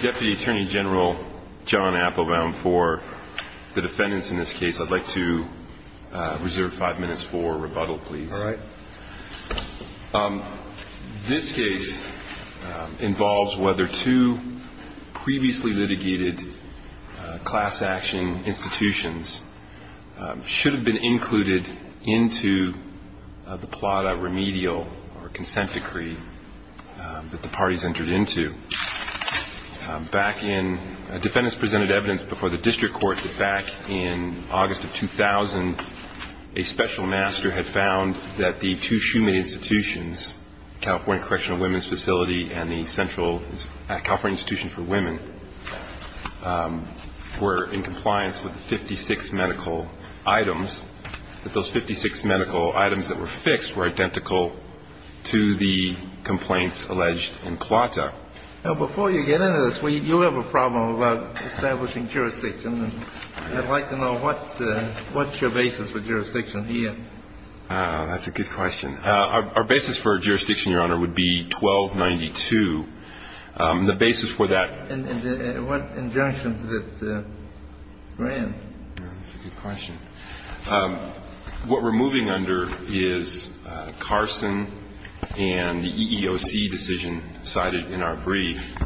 Deputy Attorney General John Appelbaum, for the defendants in this case, I'd like to reserve five minutes for rebuttal, please. All right. This case involves whether two previously litigated class action institutions should have been included into the Plata remedial or Back in, defendants presented evidence before the district court that back in August of 2000, a special master had found that the two Schumann institutions, California Correctional Women's Facility and the central California Institution for Women, were in compliance with 56 medical items, that those 56 medical items that were fixed were identical to the complaints alleged in Plata. Now, before you get into this, you have a problem about establishing jurisdiction. I'd like to know what's your basis for jurisdiction here. That's a good question. Our basis for jurisdiction, Your Honor, would be 1292. The basis for that. And what injunction did it grant? That's a good question. What we're moving under is Carson and the EEOC decision cited in our brief.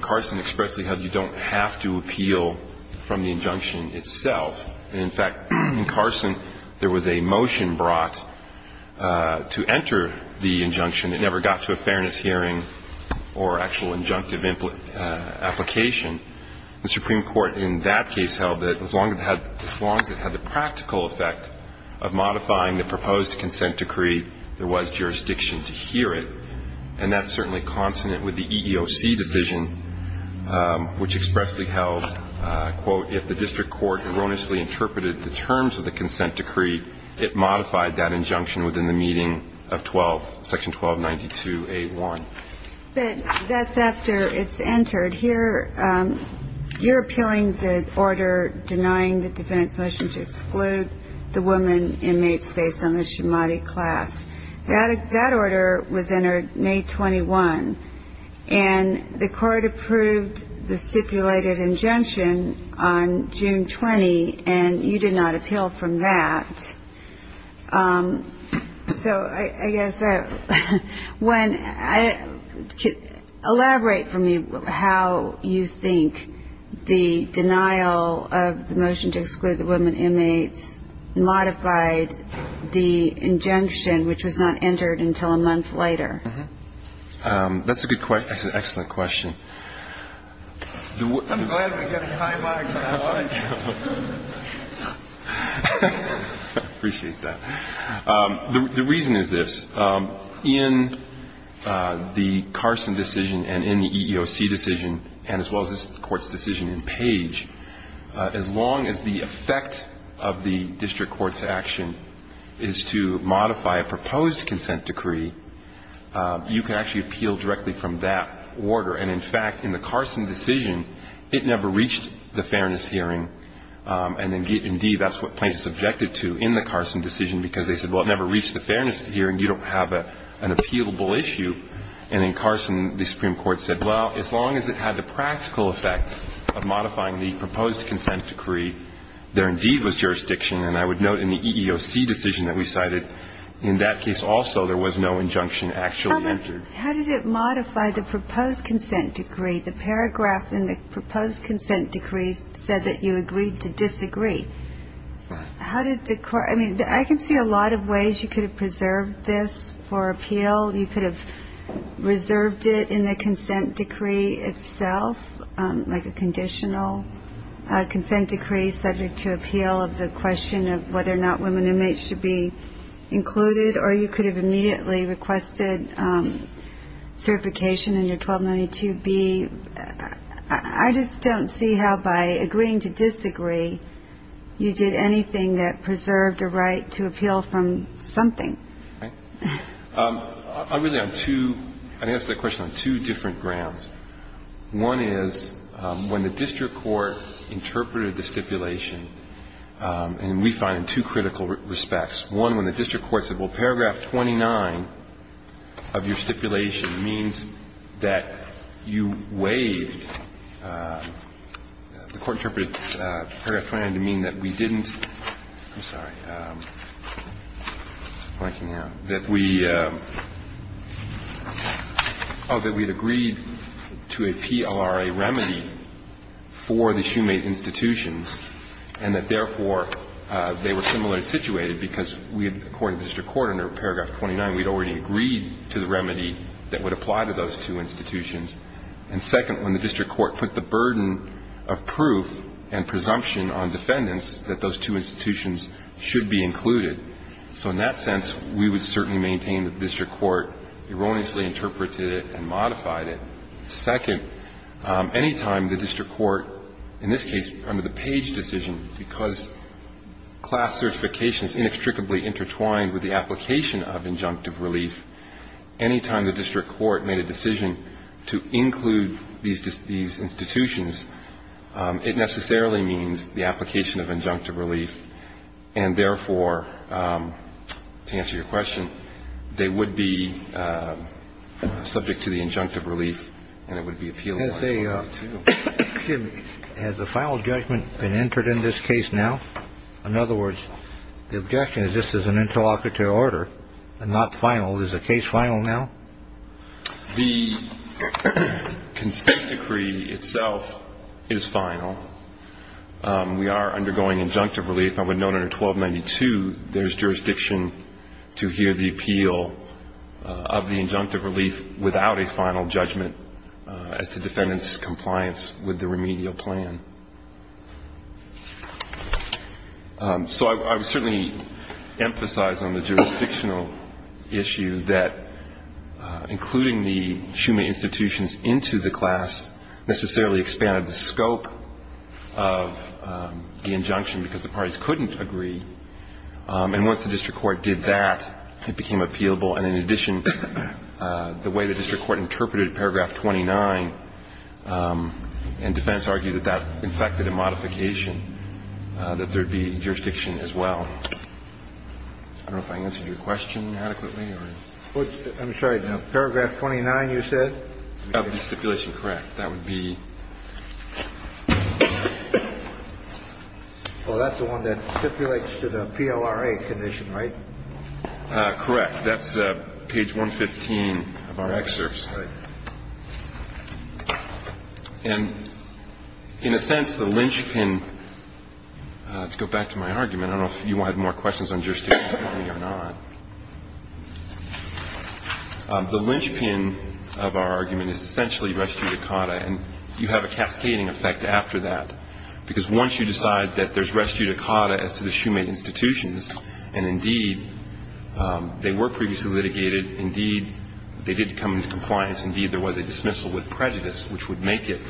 Carson expressly held you don't have to appeal from the injunction itself. And, in fact, in Carson, there was a motion brought to enter the injunction. It never got to a fairness hearing or actual injunctive application. The Supreme Court in that case held that as long as it had the practical effect of modifying the proposed consent decree, there was jurisdiction to hear it. And that's certainly consonant with the EEOC decision, which expressly held, quote, if the district court erroneously interpreted the terms of the consent decree, it modified that injunction within the meeting of 12, section 1292A1. But that's after it's entered. Here you're appealing the order denying the defendant's motion to exclude the woman inmates based on the shahmadi class. That order was entered May 21, and the court approved the stipulated injunction on June 20, and you did not appeal from that. So I guess when you elaborate for me how you think the denial of the motion to exclude the woman inmates modified the injunction, which was not entered until a month later. That's an excellent question. I'm glad we got a climax on that one. I appreciate that. The reason is this. In the Carson decision and in the EEOC decision, and as well as this Court's decision in Page, as long as the effect of the district court's action is to modify a proposed consent decree, you can actually appeal directly from that order. And in fact, in the Carson decision, it never reached the fairness hearing. And indeed, that's what plaintiffs objected to in the Carson decision, because they said, well, it never reached the fairness hearing, you don't have an appealable issue. And in Carson, the Supreme Court said, well, as long as it had the practical effect of modifying the proposed consent decree, there indeed was jurisdiction. And I would note in the EEOC decision that we cited, in that case also there was no injunction actually entered. How did it modify the proposed consent decree? The paragraph in the proposed consent decree said that you agreed to disagree. Right. I mean, I can see a lot of ways you could have preserved this for appeal. You could have reserved it in the consent decree itself, like a conditional consent decree subject to appeal of the question of whether or not women inmates should be included. Or you could have immediately requested certification in your 1292B. I just don't see how by agreeing to disagree, you did anything that preserved a right to appeal from something. Okay. Really, on two ‑‑ I'd answer that question on two different grounds. One is, when the district court interpreted the stipulation, and we find in two critical respects, one when the district court said, well, paragraph 29 of your stipulation means that you waived. The court interpreted paragraph 29 to mean that we didn't ‑‑ I'm sorry. Blanking out. That we ‑‑ oh, that we had agreed to a PLRA remedy for the Shoemate institutions and that, therefore, they were similarly situated because we, according to the district court, under paragraph 29, we had already agreed to the remedy that would apply to those two institutions. And second, when the district court put the burden of proof and presumption on defendants that those two institutions should be included. So in that sense, we would certainly maintain that the district court erroneously interpreted it and modified it. Second, any time the district court, in this case under the Page decision, because class certifications inextricably intertwined with the application of injunctive relief, any time the district court made a decision to include these institutions, it necessarily means the application of injunctive relief. And, therefore, to answer your question, they would be subject to the injunctive relief and it would be appealable. Excuse me. Has a final judgment been entered in this case now? In other words, the objection is this is an interlocutor order and not final. Is the case final now? The consent decree itself is final. We are undergoing injunctive relief. I would note under 1292 there's jurisdiction to hear the appeal of the injunctive relief without a final judgment as to defendant's compliance with the remedial plan. So I would certainly emphasize on the jurisdictional issue that including the Schumann institutions into the class necessarily expanded the scope of the injunction because the parties couldn't agree. And once the district court did that, it became appealable. And in addition, the way the district court interpreted paragraph 29 and defense argued that that in fact did a modification, that there would be jurisdiction as well. I don't know if I answered your question adequately. I'm sorry. Paragraph 29 you said? Of the stipulation, correct. That would be. Well, that's the one that stipulates to the PLRA condition, right? Correct. That's page 115 of our excerpts. And in a sense, the linchpin, to go back to my argument, I don't know if you had more questions on jurisdiction or not. The linchpin of our argument is essentially res judicata, and you have a cascading effect after that because once you decide that there's res judicata as to the Schumann and, indeed, they were previously litigated. Indeed, they did come into compliance. Indeed, there was a dismissal with prejudice, which would make it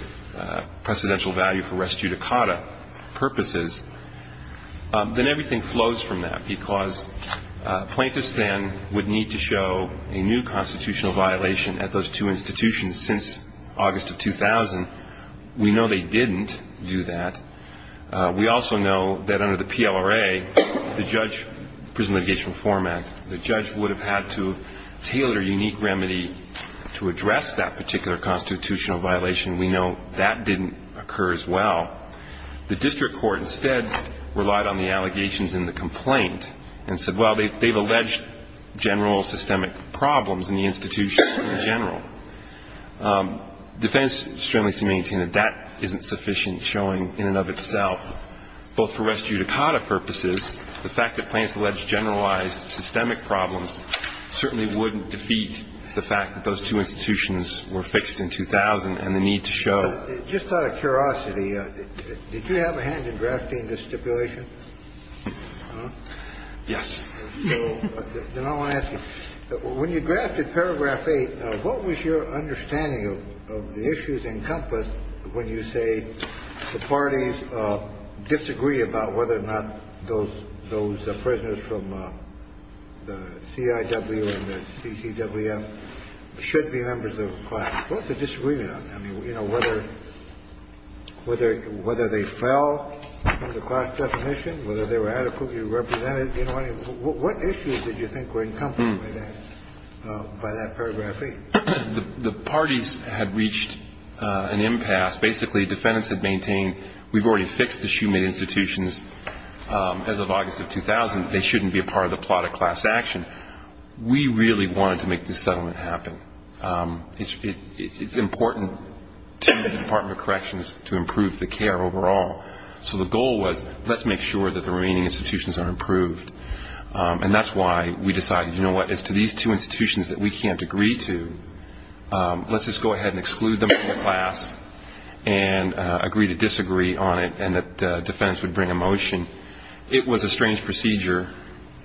precedential value for res judicata purposes. Then everything flows from that because plaintiffs then would need to show a new constitutional violation at those two institutions since August of 2000. We know they didn't do that. We also know that under the PLRA, the judge, Prison Litigation Reform Act, the judge would have had to tailor a unique remedy to address that particular constitutional violation. We know that didn't occur as well. The district court instead relied on the allegations in the complaint and said, well, they've alleged general systemic problems in the institution in general. Defendants strongly seem to maintain that that isn't sufficient showing in and of itself, both for res judicata purposes, the fact that plaintiffs alleged generalized systemic problems certainly wouldn't defeat the fact that those two institutions were fixed in 2000 and the need to show. Just out of curiosity, did you have a hand in drafting this stipulation? Yes. Then I want to ask you, when you drafted Paragraph 8, what was your understanding of the issues encompassed when you say the parties disagree about whether or not those prisoners from the CIW and the CCWF should be members of the class? What's the disagreement on that? I mean, you know, whether they fell from the class definition, whether they were adequately represented, you know what I mean? What issues did you think were encompassed by that, by that Paragraph 8? The parties had reached an impasse. Basically, defendants had maintained we've already fixed the Schumann institutions as of August of 2000. They shouldn't be a part of the plot of class action. We really wanted to make this settlement happen. It's important to the Department of Corrections to improve the care overall. So the goal was let's make sure that the remaining institutions are improved. And that's why we decided, you know what, as to these two institutions that we can't agree to, let's just go ahead and exclude them from the class and agree to disagree on it, and that defendants would bring a motion. It was a strange procedure.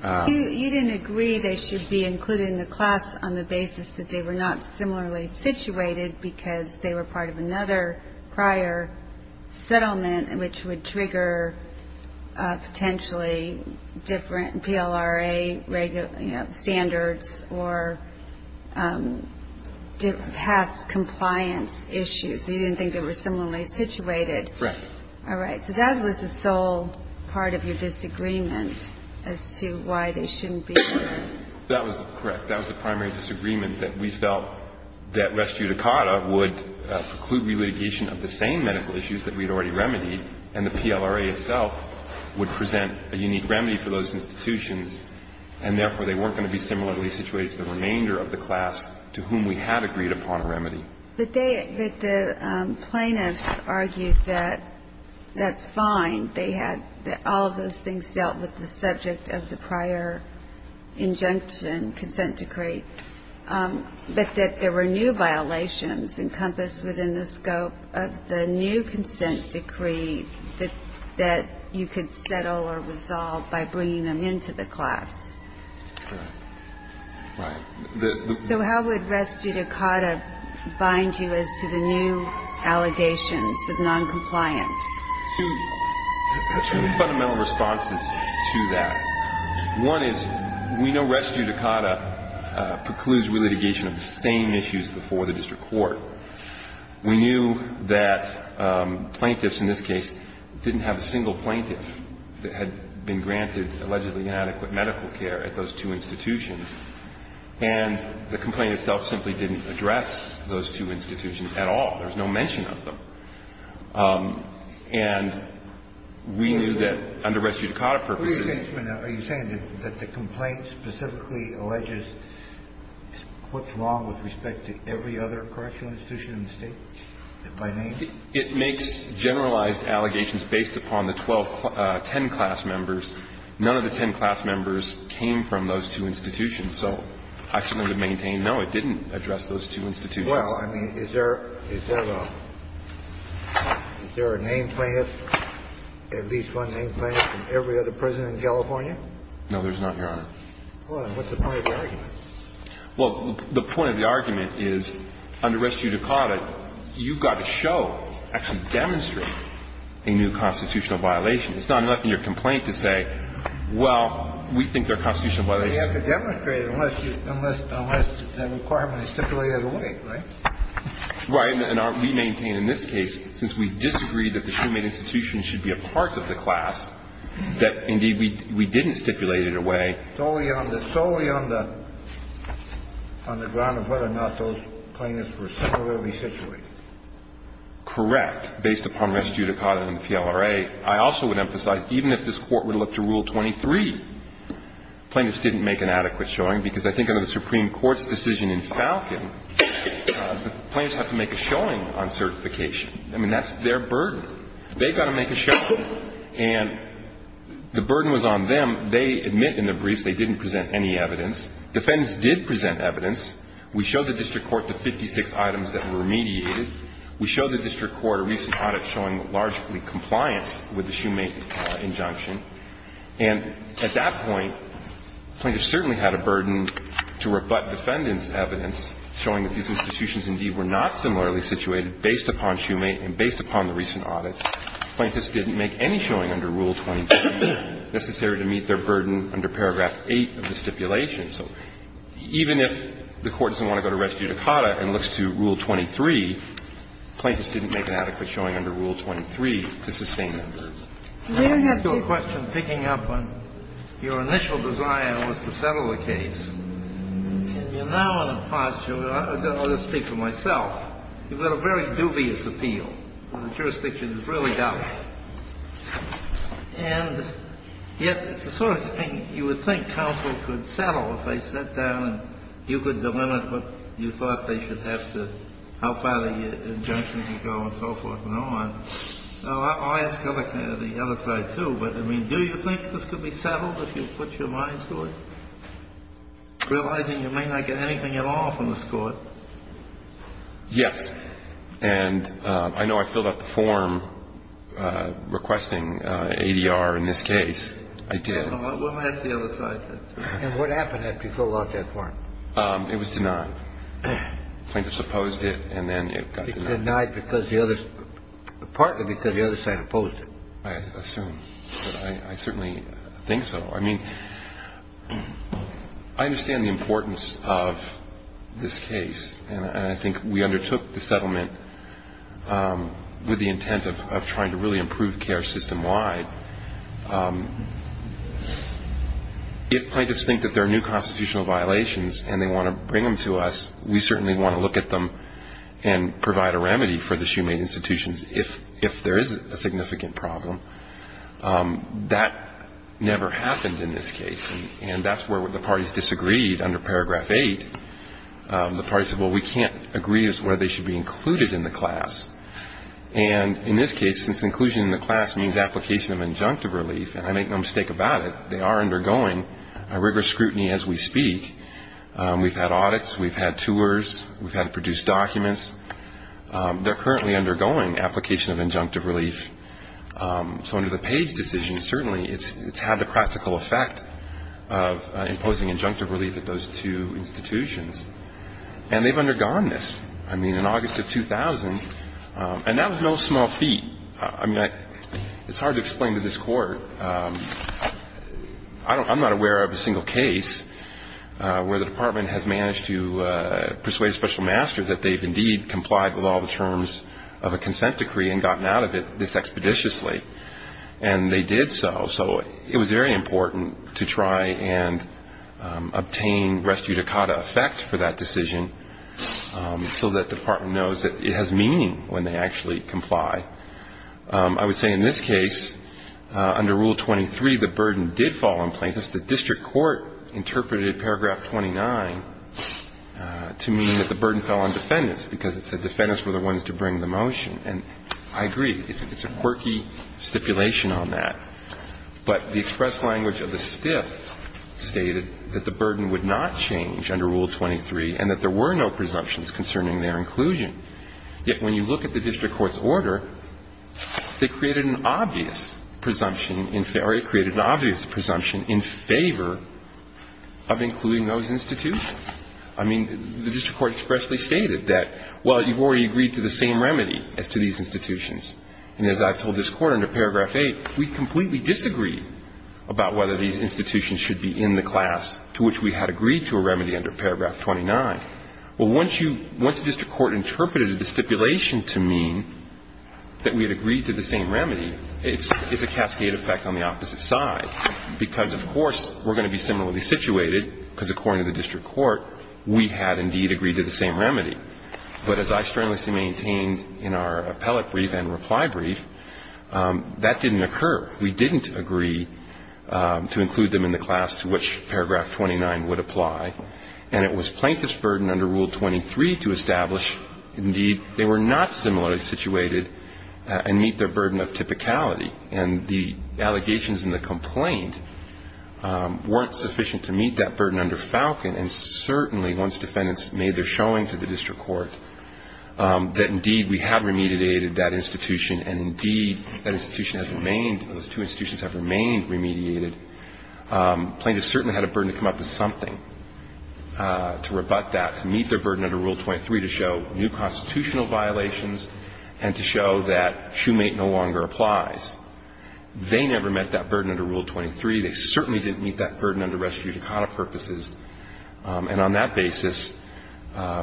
You didn't agree they should be included in the class on the basis that they were not similarly situated because they were part of another prior settlement, which would trigger potentially different PLRA standards or past compliance issues. You didn't think they were similarly situated. Correct. All right. So that was the sole part of your disagreement as to why they shouldn't be there. That was correct. That was the primary disagreement, that we felt that res judicata would preclude relitigation of the same medical issues that we had already remedied, and the PLRA itself would present a unique remedy for those institutions, and therefore they weren't going to be similarly situated to the remainder of the class to whom we had agreed upon a remedy. But they, the plaintiffs argued that that's fine. They had, that all of those things dealt with the subject of the prior injunction consent decree, but that there were new violations encompassed within the scope of the new consent decree that you could settle or resolve by bringing them into the class. Correct. Right. So how would res judicata bind you as to the new allegations of noncompliance? Two fundamental responses to that. One is we know res judicata precludes relitigation of the same issues before the district court. We knew that plaintiffs in this case didn't have a single plaintiff that had been granted allegedly inadequate medical care at those two institutions, and the complaint itself simply didn't address those two institutions at all. There's no mention of them. And we knew that under res judicata purposes. Are you saying that the complaint specifically alleges what's wrong with respect to every other correctional institution in the State by name? It makes generalized allegations based upon the 12, 10 class members. None of the 10 class members came from those two institutions. So I simply maintain, no, it didn't address those two institutions. Well, I mean, is there a name plaintiff, at least one name plaintiff from every other prison in California? No, there's not, Your Honor. Well, then what's the point of the argument? Well, the point of the argument is under res judicata, you've got to show, actually demonstrate a new constitutional violation. It's not enough in your complaint to say, well, we think there are constitutional violations. You have to demonstrate it unless the requirement is stipulated away, right? Right. And we maintain in this case, since we disagree that the shoemade institution should be a part of the class, that indeed we didn't stipulate it away. Solely on the ground of whether or not those plaintiffs were similarly situated. Correct. Based upon res judicata and PLRA. I also would emphasize, even if this Court were to look to Rule 23, plaintiffs didn't make an adequate showing, because I think under the Supreme Court's decision in Falcon, the plaintiffs have to make a showing on certification. I mean, that's their burden. They've got to make a showing. And the burden was on them. They admit in the briefs they didn't present any evidence. Defendants did present evidence. We showed the district court the 56 items that were remediated. We showed the district court a recent audit showing largely compliance with the shoemade injunction. And at that point, plaintiffs certainly had a burden to rebut defendants' evidence showing that these institutions indeed were not similarly situated based upon shoemade and based upon the recent audits. Plaintiffs didn't make any showing under Rule 23 necessary to meet their burden under paragraph 8 of the stipulation. So even if the Court doesn't want to go to res judicata and looks to Rule 23, plaintiffs have to make a showing on certification. Now, let me ask you a question, picking up on your initial desire was to settle the case. And you're now in a posture, and I'll just speak for myself, you've got a very dubious appeal, and the jurisdiction is really doubtful. And yet it's the sort of thing you would think counsel could settle if they sat down and you could delimit what you thought they should have to, how far the injunction could go and so forth and on. So I'll ask the other side, too. But, I mean, do you think this could be settled if you put your mind to it, realizing you may not get anything at all from this Court? Yes. And I know I filled out the form requesting ADR in this case. I did. We'll ask the other side. And what happened after you filled out that form? It was denied. Plaintiffs opposed it, and then it got denied. It was denied partly because the other side opposed it. I assume. But I certainly think so. I mean, I understand the importance of this case. And I think we undertook the settlement with the intent of trying to really improve care system-wide. If plaintiffs think that there are new constitutional violations and they want to bring them to us, we certainly want to look at them and provide a remedy for the shoemade institutions if there is a significant problem. That never happened in this case, and that's where the parties disagreed under Paragraph 8. The parties said, well, we can't agree as to whether they should be included in the class. And in this case, since inclusion in the class means application of injunctive relief, and I make no mistake about it, they are undergoing rigorous scrutiny as we speak. We've had audits. We've had tours. We've had to produce documents. They're currently undergoing application of injunctive relief. So under the Page decision, certainly it's had the practical effect of imposing injunctive relief at those two institutions. And they've undergone this. I mean, in August of 2000, and that was no small feat. I mean, it's hard to explain to this Court. I'm not aware of a single case where the Department has managed to persuade a special master that they've indeed complied with all the terms of a consent decree and gotten out of it this expeditiously, and they did so. So it was very important to try and obtain res judicata effect for that decision so that the Department knows that it has meaning when they actually comply. I would say in this case, under Rule 23, the burden did fall on plaintiffs. The district court interpreted Paragraph 29 to mean that the burden fell on defendants because it said defendants were the ones to bring the motion. And I agree. It's a quirky stipulation on that. But the express language of the stiff stated that the burden would not change under Rule 23 and that there were no presumptions concerning their inclusion. Yet when you look at the district court's order, they created an obvious presumption in or it created an obvious presumption in favor of including those institutions. I mean, the district court expressly stated that, well, you've already agreed to the same remedy as to these institutions. And as I've told this Court under Paragraph 8, we completely disagreed about whether these institutions should be in the class to which we had agreed to a remedy under Paragraph 29. Well, once you – once the district court interpreted a stipulation to mean that we had agreed to the same remedy, it's a cascade effect on the opposite side because, of course, we're going to be similarly situated because, according to the district court, we had indeed agreed to the same remedy. But as I strenuously maintained in our appellate brief and reply brief, that didn't occur. We didn't agree to include them in the class to which Paragraph 29 would apply. And it was plaintiff's burden under Rule 23 to establish, indeed, they were not similarly situated and meet their burden of typicality. And the allegations in the complaint weren't sufficient to meet that burden under Falcon. And certainly, once defendants made their showing to the district court that, indeed, we have remediated that institution and, indeed, that institution has remained – those two institutions have remained remediated, plaintiffs certainly had a burden to come up with something to rebut that, to meet their burden under Rule 23, to show new constitutional violations and to show that Shoemate no longer applies. They never met that burden under Rule 23. They certainly didn't meet that burden under res judicata purposes. And on that basis,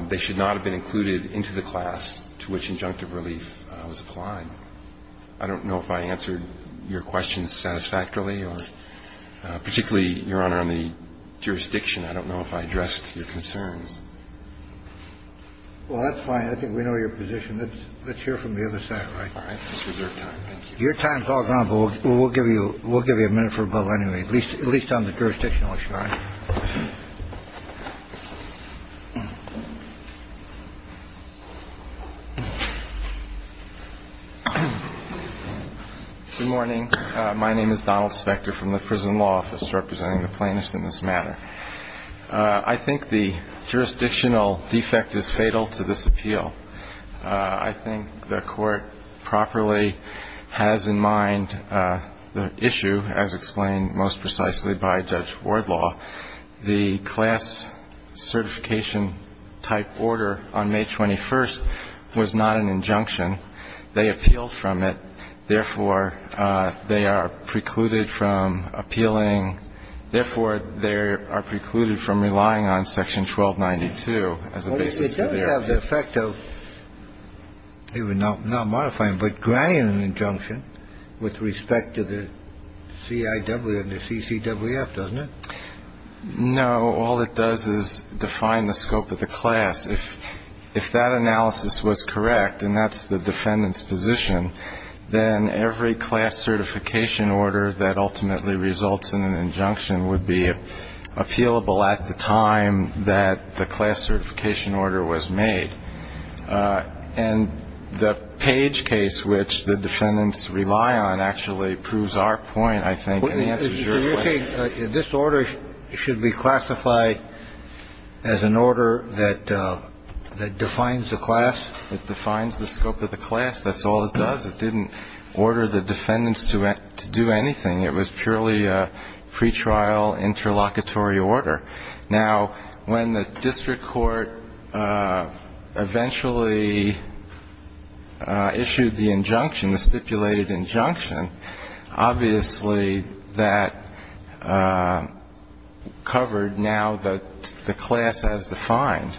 they should not have been included into the class to which injunctive relief was applied. I don't know if I answered your question satisfactorily, or particularly, Your Honor, on the jurisdiction. I don't know if I addressed your concerns. Well, that's fine. I think we know your position. Let's hear from the other side, all right? All right. Let's reserve time. Thank you. Your time is all gone, but we'll give you a minute for a bubble anyway, at least on the jurisdictional issue. All right. Good morning. My name is Donald Spector from the Prison Law Office, representing the plaintiffs in this matter. I think the jurisdictional defect is fatal to this appeal. I think the Court properly has in mind the issue, as explained most precisely by Judge Wardlaw. The class certification-type order on May 21st was not an injunction. They appealed from it. Therefore, they are precluded from appealing. Therefore, they are precluded from relying on Section 1292 as a basis for their appeal. Well, it does have the effect of not modifying, but granting an injunction with respect to the CIW and the CCWF, doesn't it? No. All it does is define the scope of the class. If that analysis was correct, and that's the defendant's position, then every class certification order that ultimately results in an injunction would be appealable at the time that the class certification order was made. And the Page case, which the defendants rely on, actually proves our point, I think, and answers your question. So you're saying this order should be classified as an order that defines the class? It defines the scope of the class. That's all it does. It didn't order the defendants to do anything. It was purely a pretrial interlocutory order. Now, when the district court eventually issued the injunction, the stipulated injunction, obviously that covered now the class as defined.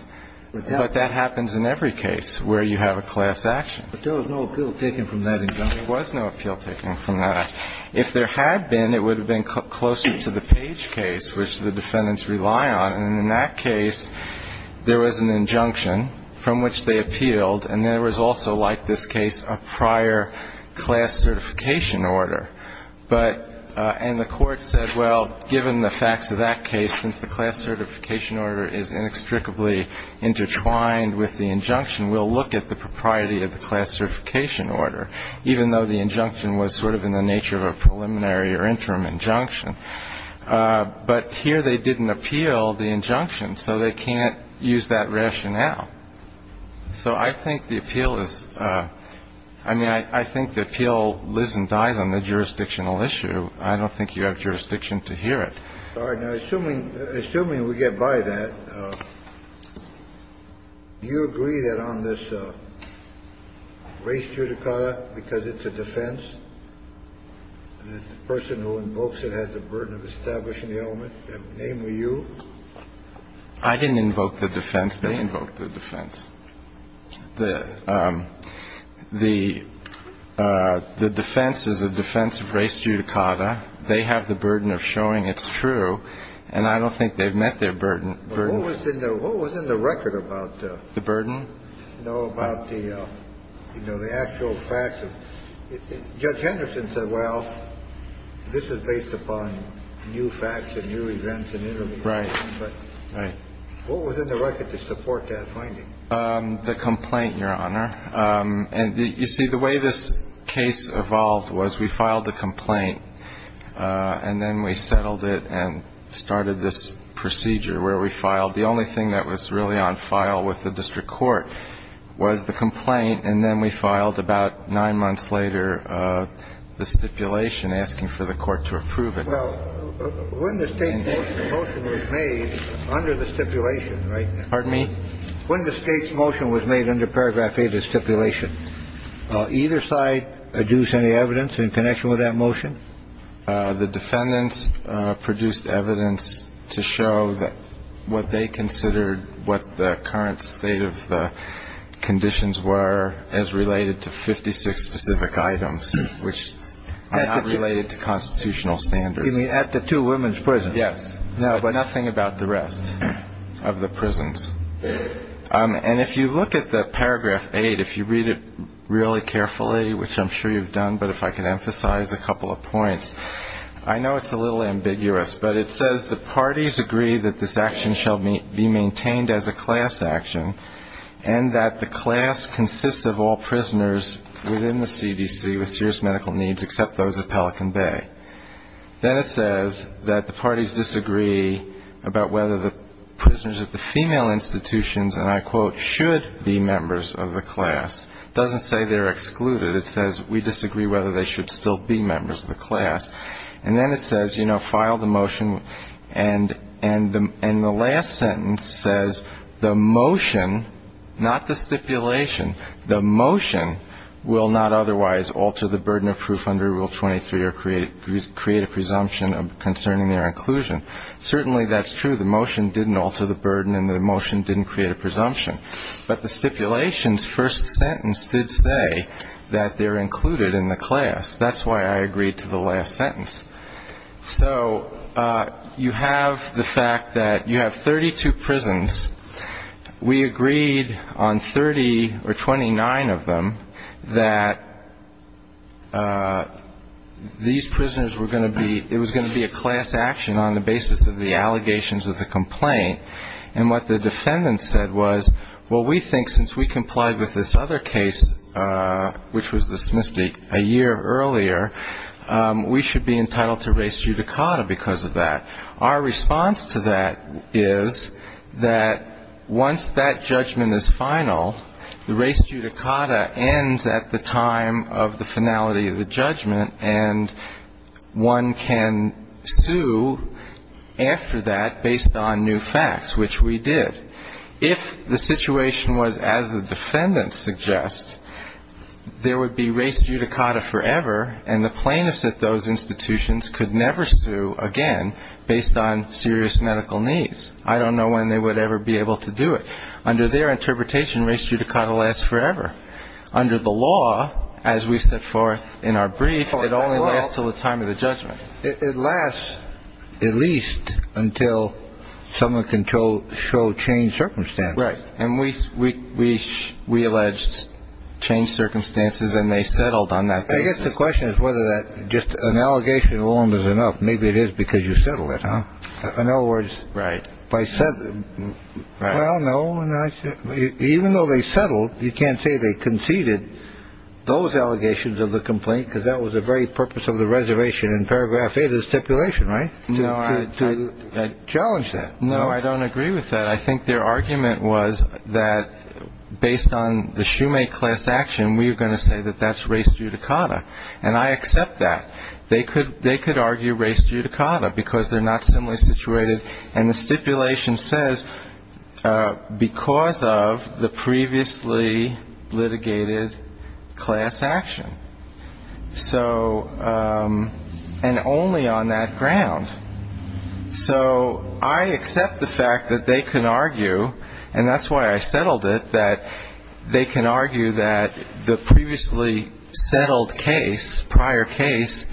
But that happens in every case where you have a class action. But there was no appeal taken from that injunction. There was no appeal taken from that. If there had been, it would have been closer to the Page case, which the defendants rely on, and in that case, there was an injunction from which they appealed, and there was also, like this case, a prior class certification order. But the court said, well, given the facts of that case, since the class certification order is inextricably intertwined with the injunction, we'll look at the propriety of the class certification order, even though the injunction was sort of in the nature of a preliminary or interim injunction. But here they didn't appeal the injunction, so they can't use that rationale. So I think the appeal is – I mean, I think the appeal lives and dies on the jurisdictional issue. I don't think you have jurisdiction to hear it. Kennedy. All right. Now, assuming we get by that, do you agree that on this race judicata, because it's a defense, the person who invokes it has the burden of establishing the element, namely you? I didn't invoke the defense. They invoked the defense. The defense is a defense of race judicata. They have the burden of showing it's true, and I don't think they've met their burden. What was in the record about the burden? No, about the actual facts. Judge Henderson said, well, this is based upon new facts and new events in Italy. What was in the record to support that finding? The complaint, Your Honor. And, you see, the way this case evolved was we filed a complaint, and then we settled it and started this procedure where we filed – the only thing that was really on file with the district court was the complaint, and then we filed about nine months later, the stipulation asking for the court to approve it. Well, when the state's motion was made under the stipulation – Pardon me? When the state's motion was made under paragraph 8 of the stipulation, either side deduce any evidence in connection with that motion? The defendants produced evidence to show that what they considered what the current state of the conditions were as related to 56 specific items, which are not related to – You mean at the two women's prisons? Yes. No, but – Nothing about the rest of the prisons. And if you look at the paragraph 8, if you read it really carefully, which I'm sure you've done, but if I can emphasize a couple of points, I know it's a little ambiguous, but it says the parties agree that this action shall be maintained as a class action and that the class consists of all prisoners within the CDC with serious medical needs except those at Pelican Bay. Then it says that the parties disagree about whether the prisoners at the female institutions, and I quote, should be members of the class. It doesn't say they're excluded. It says we disagree whether they should still be members of the class. And then it says, you know, file the motion, and the last sentence says the motion, not the stipulation, the motion will not otherwise alter the burden of proof under Rule 23 or create a presumption concerning their inclusion. Certainly that's true. The motion didn't alter the burden, and the motion didn't create a presumption. But the stipulation's first sentence did say that they're included in the class. That's why I agreed to the last sentence. So you have the fact that you have 32 prisons. We agreed on 30 or 29 of them that these prisoners were going to be, it was going to be a class action on the basis of the allegations of the complaint. And what the defendant said was, well, we think since we complied with this other case, which was dismissed a year earlier, we should be entitled to res judicata because of that. Our response to that is that once that judgment is final, the res judicata ends at the time of the finality of the judgment, and one can sue after that based on new facts, which we did. If the situation was as the defendant suggests, there would be res judicata forever, and the plaintiffs at those institutions could never sue again based on serious medical needs. I don't know when they would ever be able to do it. Under their interpretation, res judicata lasts forever. Under the law, as we set forth in our brief, it only lasts until the time of the judgment. It lasts at least until someone can show change circumstances. Right. And we alleged change circumstances and they settled on that. I guess the question is whether that just an allegation alone is enough. Maybe it is because you settle it. In other words. Right. I said, well, no. Even though they settled, you can't say they conceded those allegations of the complaint because that was the very purpose of the reservation in paragraph eight of the stipulation. Right. To challenge that. No, I don't agree with that. I think their argument was that based on the shoemake class action, we are going to say that that's res judicata. And I accept that. They could argue res judicata because they're not similarly situated. And the stipulation says because of the previously litigated class action. So and only on that ground. So I accept the fact that they can argue, and that's why I settled it, that they can argue that the previously settled case, prior case,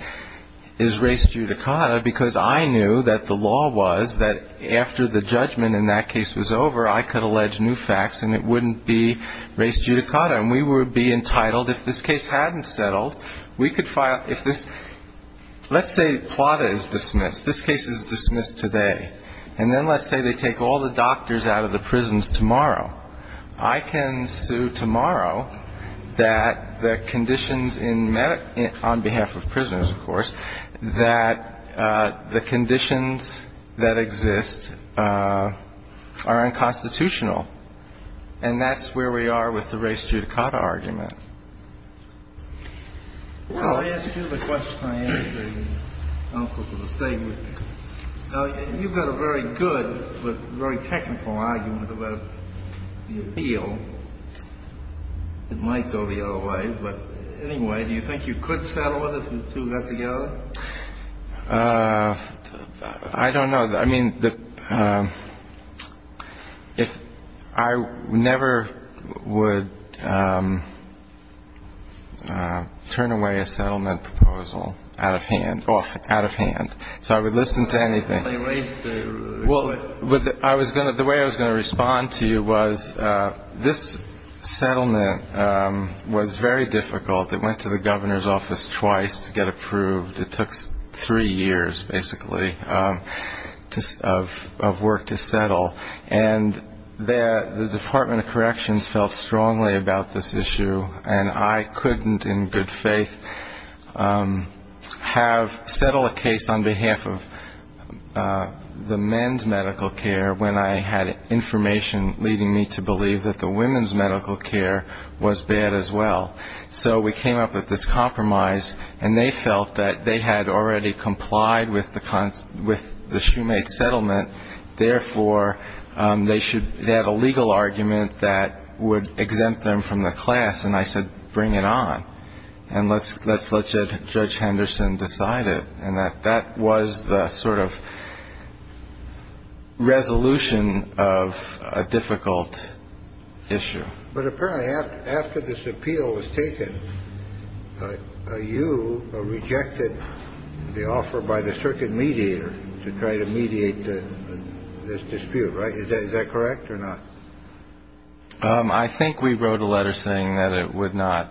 is res judicata because I knew that the law was that after the judgment in that case was over, I could allege new facts and it wouldn't be res judicata. And we would be entitled, if this case hadn't settled, we could file if this. Let's say Plata is dismissed. This case is dismissed today. And then let's say they take all the doctors out of the prisons tomorrow. I can sue tomorrow that the conditions on behalf of prisoners, of course, that the conditions that exist are unconstitutional. And that's where we are with the res judicata argument. Well, I asked you the question I asked the counsel to the statement. You've got a very good but very technical argument about the appeal. It might go the other way. But anyway, do you think you could settle it if you two got together? I don't know. I mean, I never would turn away a settlement proposal out of hand. So I would listen to anything. The way I was going to respond to you was this settlement was very difficult. It went to the governor's office twice to get approved. It took three years, basically, of work to settle. And the Department of Corrections felt strongly about this issue, and I couldn't in good faith have settled a case on behalf of the men's medical care when I had information leading me to believe that the women's medical care was bad as well. So we came up with this compromise, and they felt that they had already complied with the shoemake settlement. Therefore, they should have a legal argument that would exempt them from the class. And I said, bring it on, and let's let Judge Henderson decide it. And that was the sort of resolution of a difficult issue. But apparently after this appeal was taken, you rejected the offer by the circuit mediator to try to mediate this dispute, right? Is that correct or not? I think we wrote a letter saying that it would not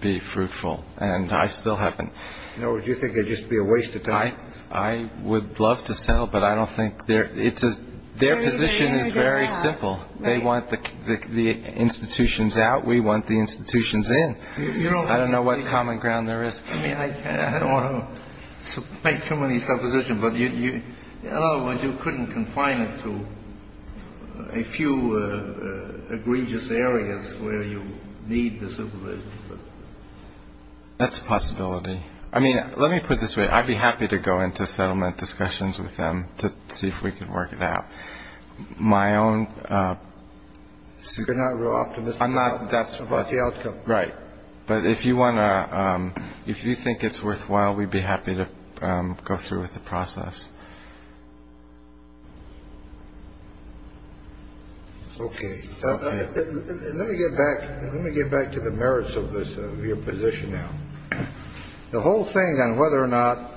be fruitful, and I still haven't. In other words, you think it would just be a waste of time? I would love to settle, but I don't think their position is very simple. They want the institutions out. We want the institutions in. I don't know what common ground there is. I don't want to make too many suppositions, but in other words, you couldn't confine it to a few egregious areas where you need the supervision. That's a possibility. I mean, let me put it this way. I'd be happy to go into settlement discussions with them to see if we could work it out. My own. So you're not optimistic. I'm not. That's about the outcome. Right. But if you want to if you think it's worthwhile, we'd be happy to go through with the process. It's OK. Let me get back. Let me get back to the merits of this position now. The whole thing on whether or not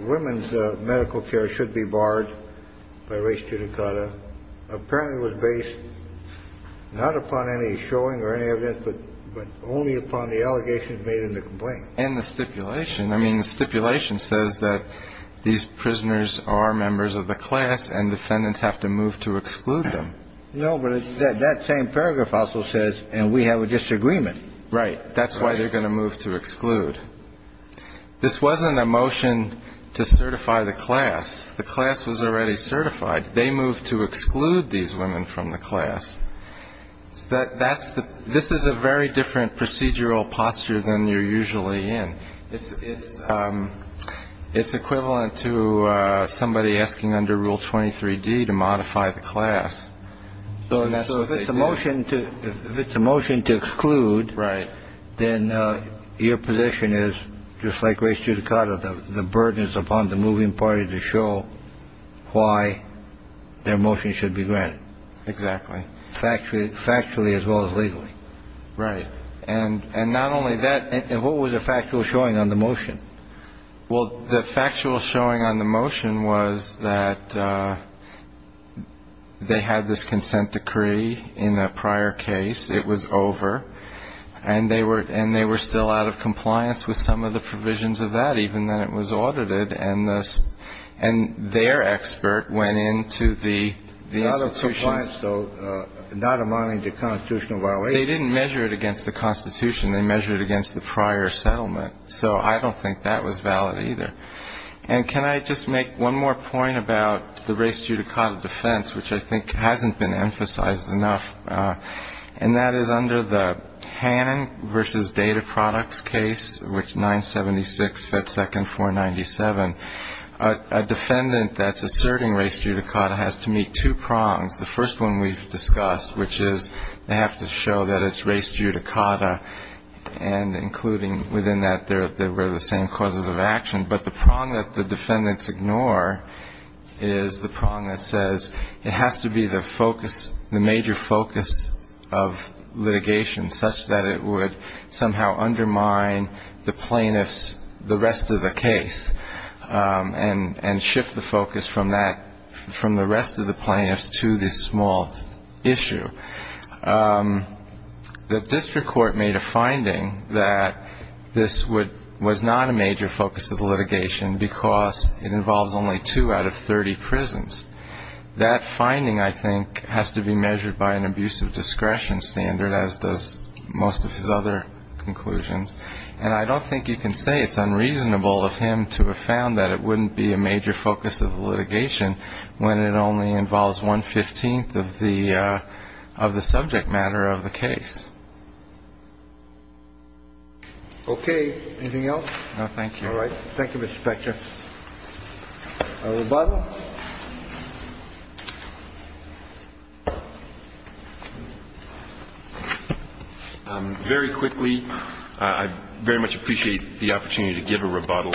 women's medical care should be barred by race to Dakota apparently was based not upon any showing or any of this, but only upon the allegations made in the complaint and the stipulation. I mean, the stipulation says that these prisoners are members of the class and defendants have to move to exclude them. No, but that same paragraph also says and we have a disagreement. Right. That's why they're going to move to exclude. This wasn't a motion to certify the class. The class was already certified. They moved to exclude these women from the class. That's the this is a very different procedural posture than you're usually in. It's it's it's equivalent to somebody asking under Rule 23 D to modify the class. So if it's a motion to if it's a motion to exclude. Right. Then your position is just like race to Dakota. The burden is upon the moving party to show why their motion should be granted. Exactly. Factually factually as well as legally. Right. And and not only that, and what was the factual showing on the motion? Well, the factual showing on the motion was that they had this consent decree in a prior case. It was over and they were and they were still out of compliance with some of the provisions of that, even then it was audited. And this and their expert went into the institution. They didn't measure it against the Constitution. They measured it against the prior settlement. So I don't think that was valid either. And can I just make one more point about the race to Dakota defense, which I think hasn't been emphasized enough? And that is under the Hannon versus data products case, which 976 Fed second for 97, a defendant that's asserting race to Dakota has to meet two prongs. The first one we've discussed, which is they have to show that it's race to Dakota and including within that there, there were the same causes of action. But the prong that the defendants ignore is the prong that says it has to be the focus, the major focus of litigation such that it would somehow undermine the plaintiffs, the rest of the case and shift the focus from that, from the rest of the plaintiffs to this small issue. The district court made a finding that this would was not a major focus of litigation because it involves only two out of 30 prisons. That finding, I think, has to be measured by an abuse of discretion standard, as does most of his other conclusions. And I don't think you can say it's unreasonable of him to have found that it wouldn't be a major focus of litigation when it only involves one 15th of the of the subject matter of the case. OK. Anything else? Thank you. All right. Thank you, Mr. Spector. A rebuttal? Very quickly, I very much appreciate the opportunity to give a rebuttal.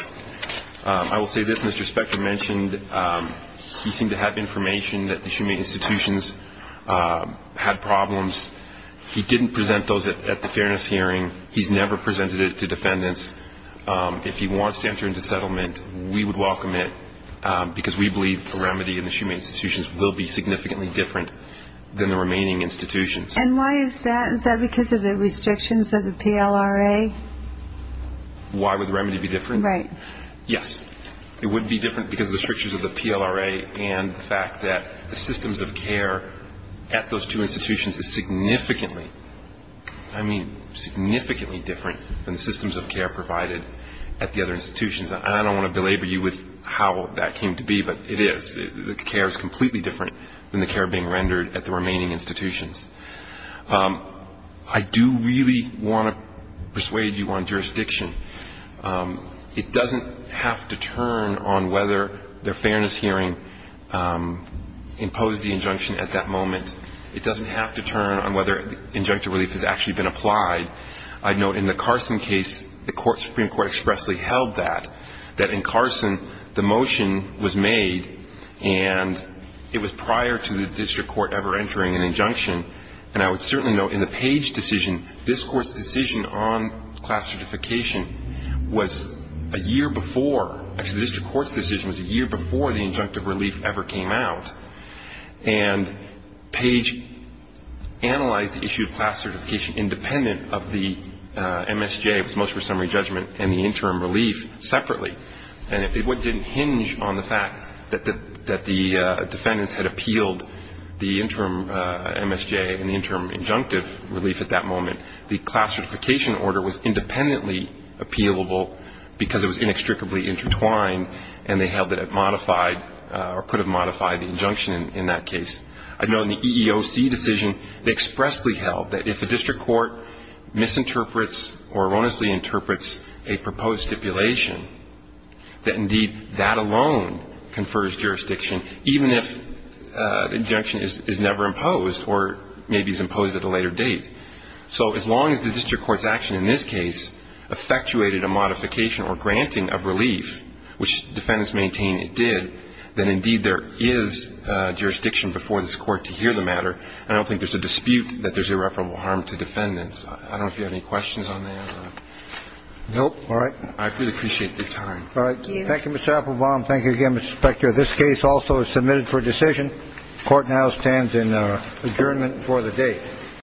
I will say this. Mr. Spector mentioned he seemed to have information that the Shumate institutions had problems. He didn't present those at the fairness hearing. He's never presented it to defendants. If he wants to enter into settlement, we would welcome it because we believe the remedy in the Shumate institutions will be significantly different than the remaining institutions. And why is that? Is that because of the restrictions of the PLRA? Why would the remedy be different? Right. Yes. It would be different because of the restrictions of the PLRA and the fact that the systems of care at those two institutions is significantly, I mean significantly different than the systems of care provided at the other institutions. And I don't want to belabor you with how that came to be, but it is. The care is completely different than the care being rendered at the remaining institutions. I do really want to persuade you on jurisdiction. It doesn't have to turn on whether the fairness hearing imposed the injunction at that moment. It doesn't have to turn on whether injunctive relief has actually been applied. I'd note in the Carson case, the Supreme Court expressly held that, that in Carson, the motion was made, and it was prior to the district court ever entering an injunction. And I would certainly note in the Page decision, this court's decision on class certification was a year before, actually the district court's decision was a year before the injunctive relief ever came out. And Page analyzed the issue of class certification independent of the MSJ, it was motion for summary judgment, and the interim relief separately. And it didn't hinge on the fact that the defendants had appealed the interim MSJ and the interim injunctive relief at that moment. The class certification order was independently appealable because it was inextricably intertwined, and they held that it modified or could have modified the injunction in that case. I'd note in the EEOC decision, they expressly held that if the district court misinterprets or erroneously interprets a proposed stipulation, that indeed that alone confers jurisdiction, even if the injunction is never imposed or maybe is imposed at a later date. So as long as the district court's action in this case effectuated a modification or granting of relief, which defendants maintain it did, then indeed there is jurisdiction before this court to hear the matter. I don't think there's a dispute that there's irreparable harm to defendants. I don't know if you have any questions on that. No. All right. I really appreciate your time. Thank you. Thank you, Mr. Applebaum. Thank you again, Mr. Spector. This case also is submitted for decision. Court now stands in adjournment for the day.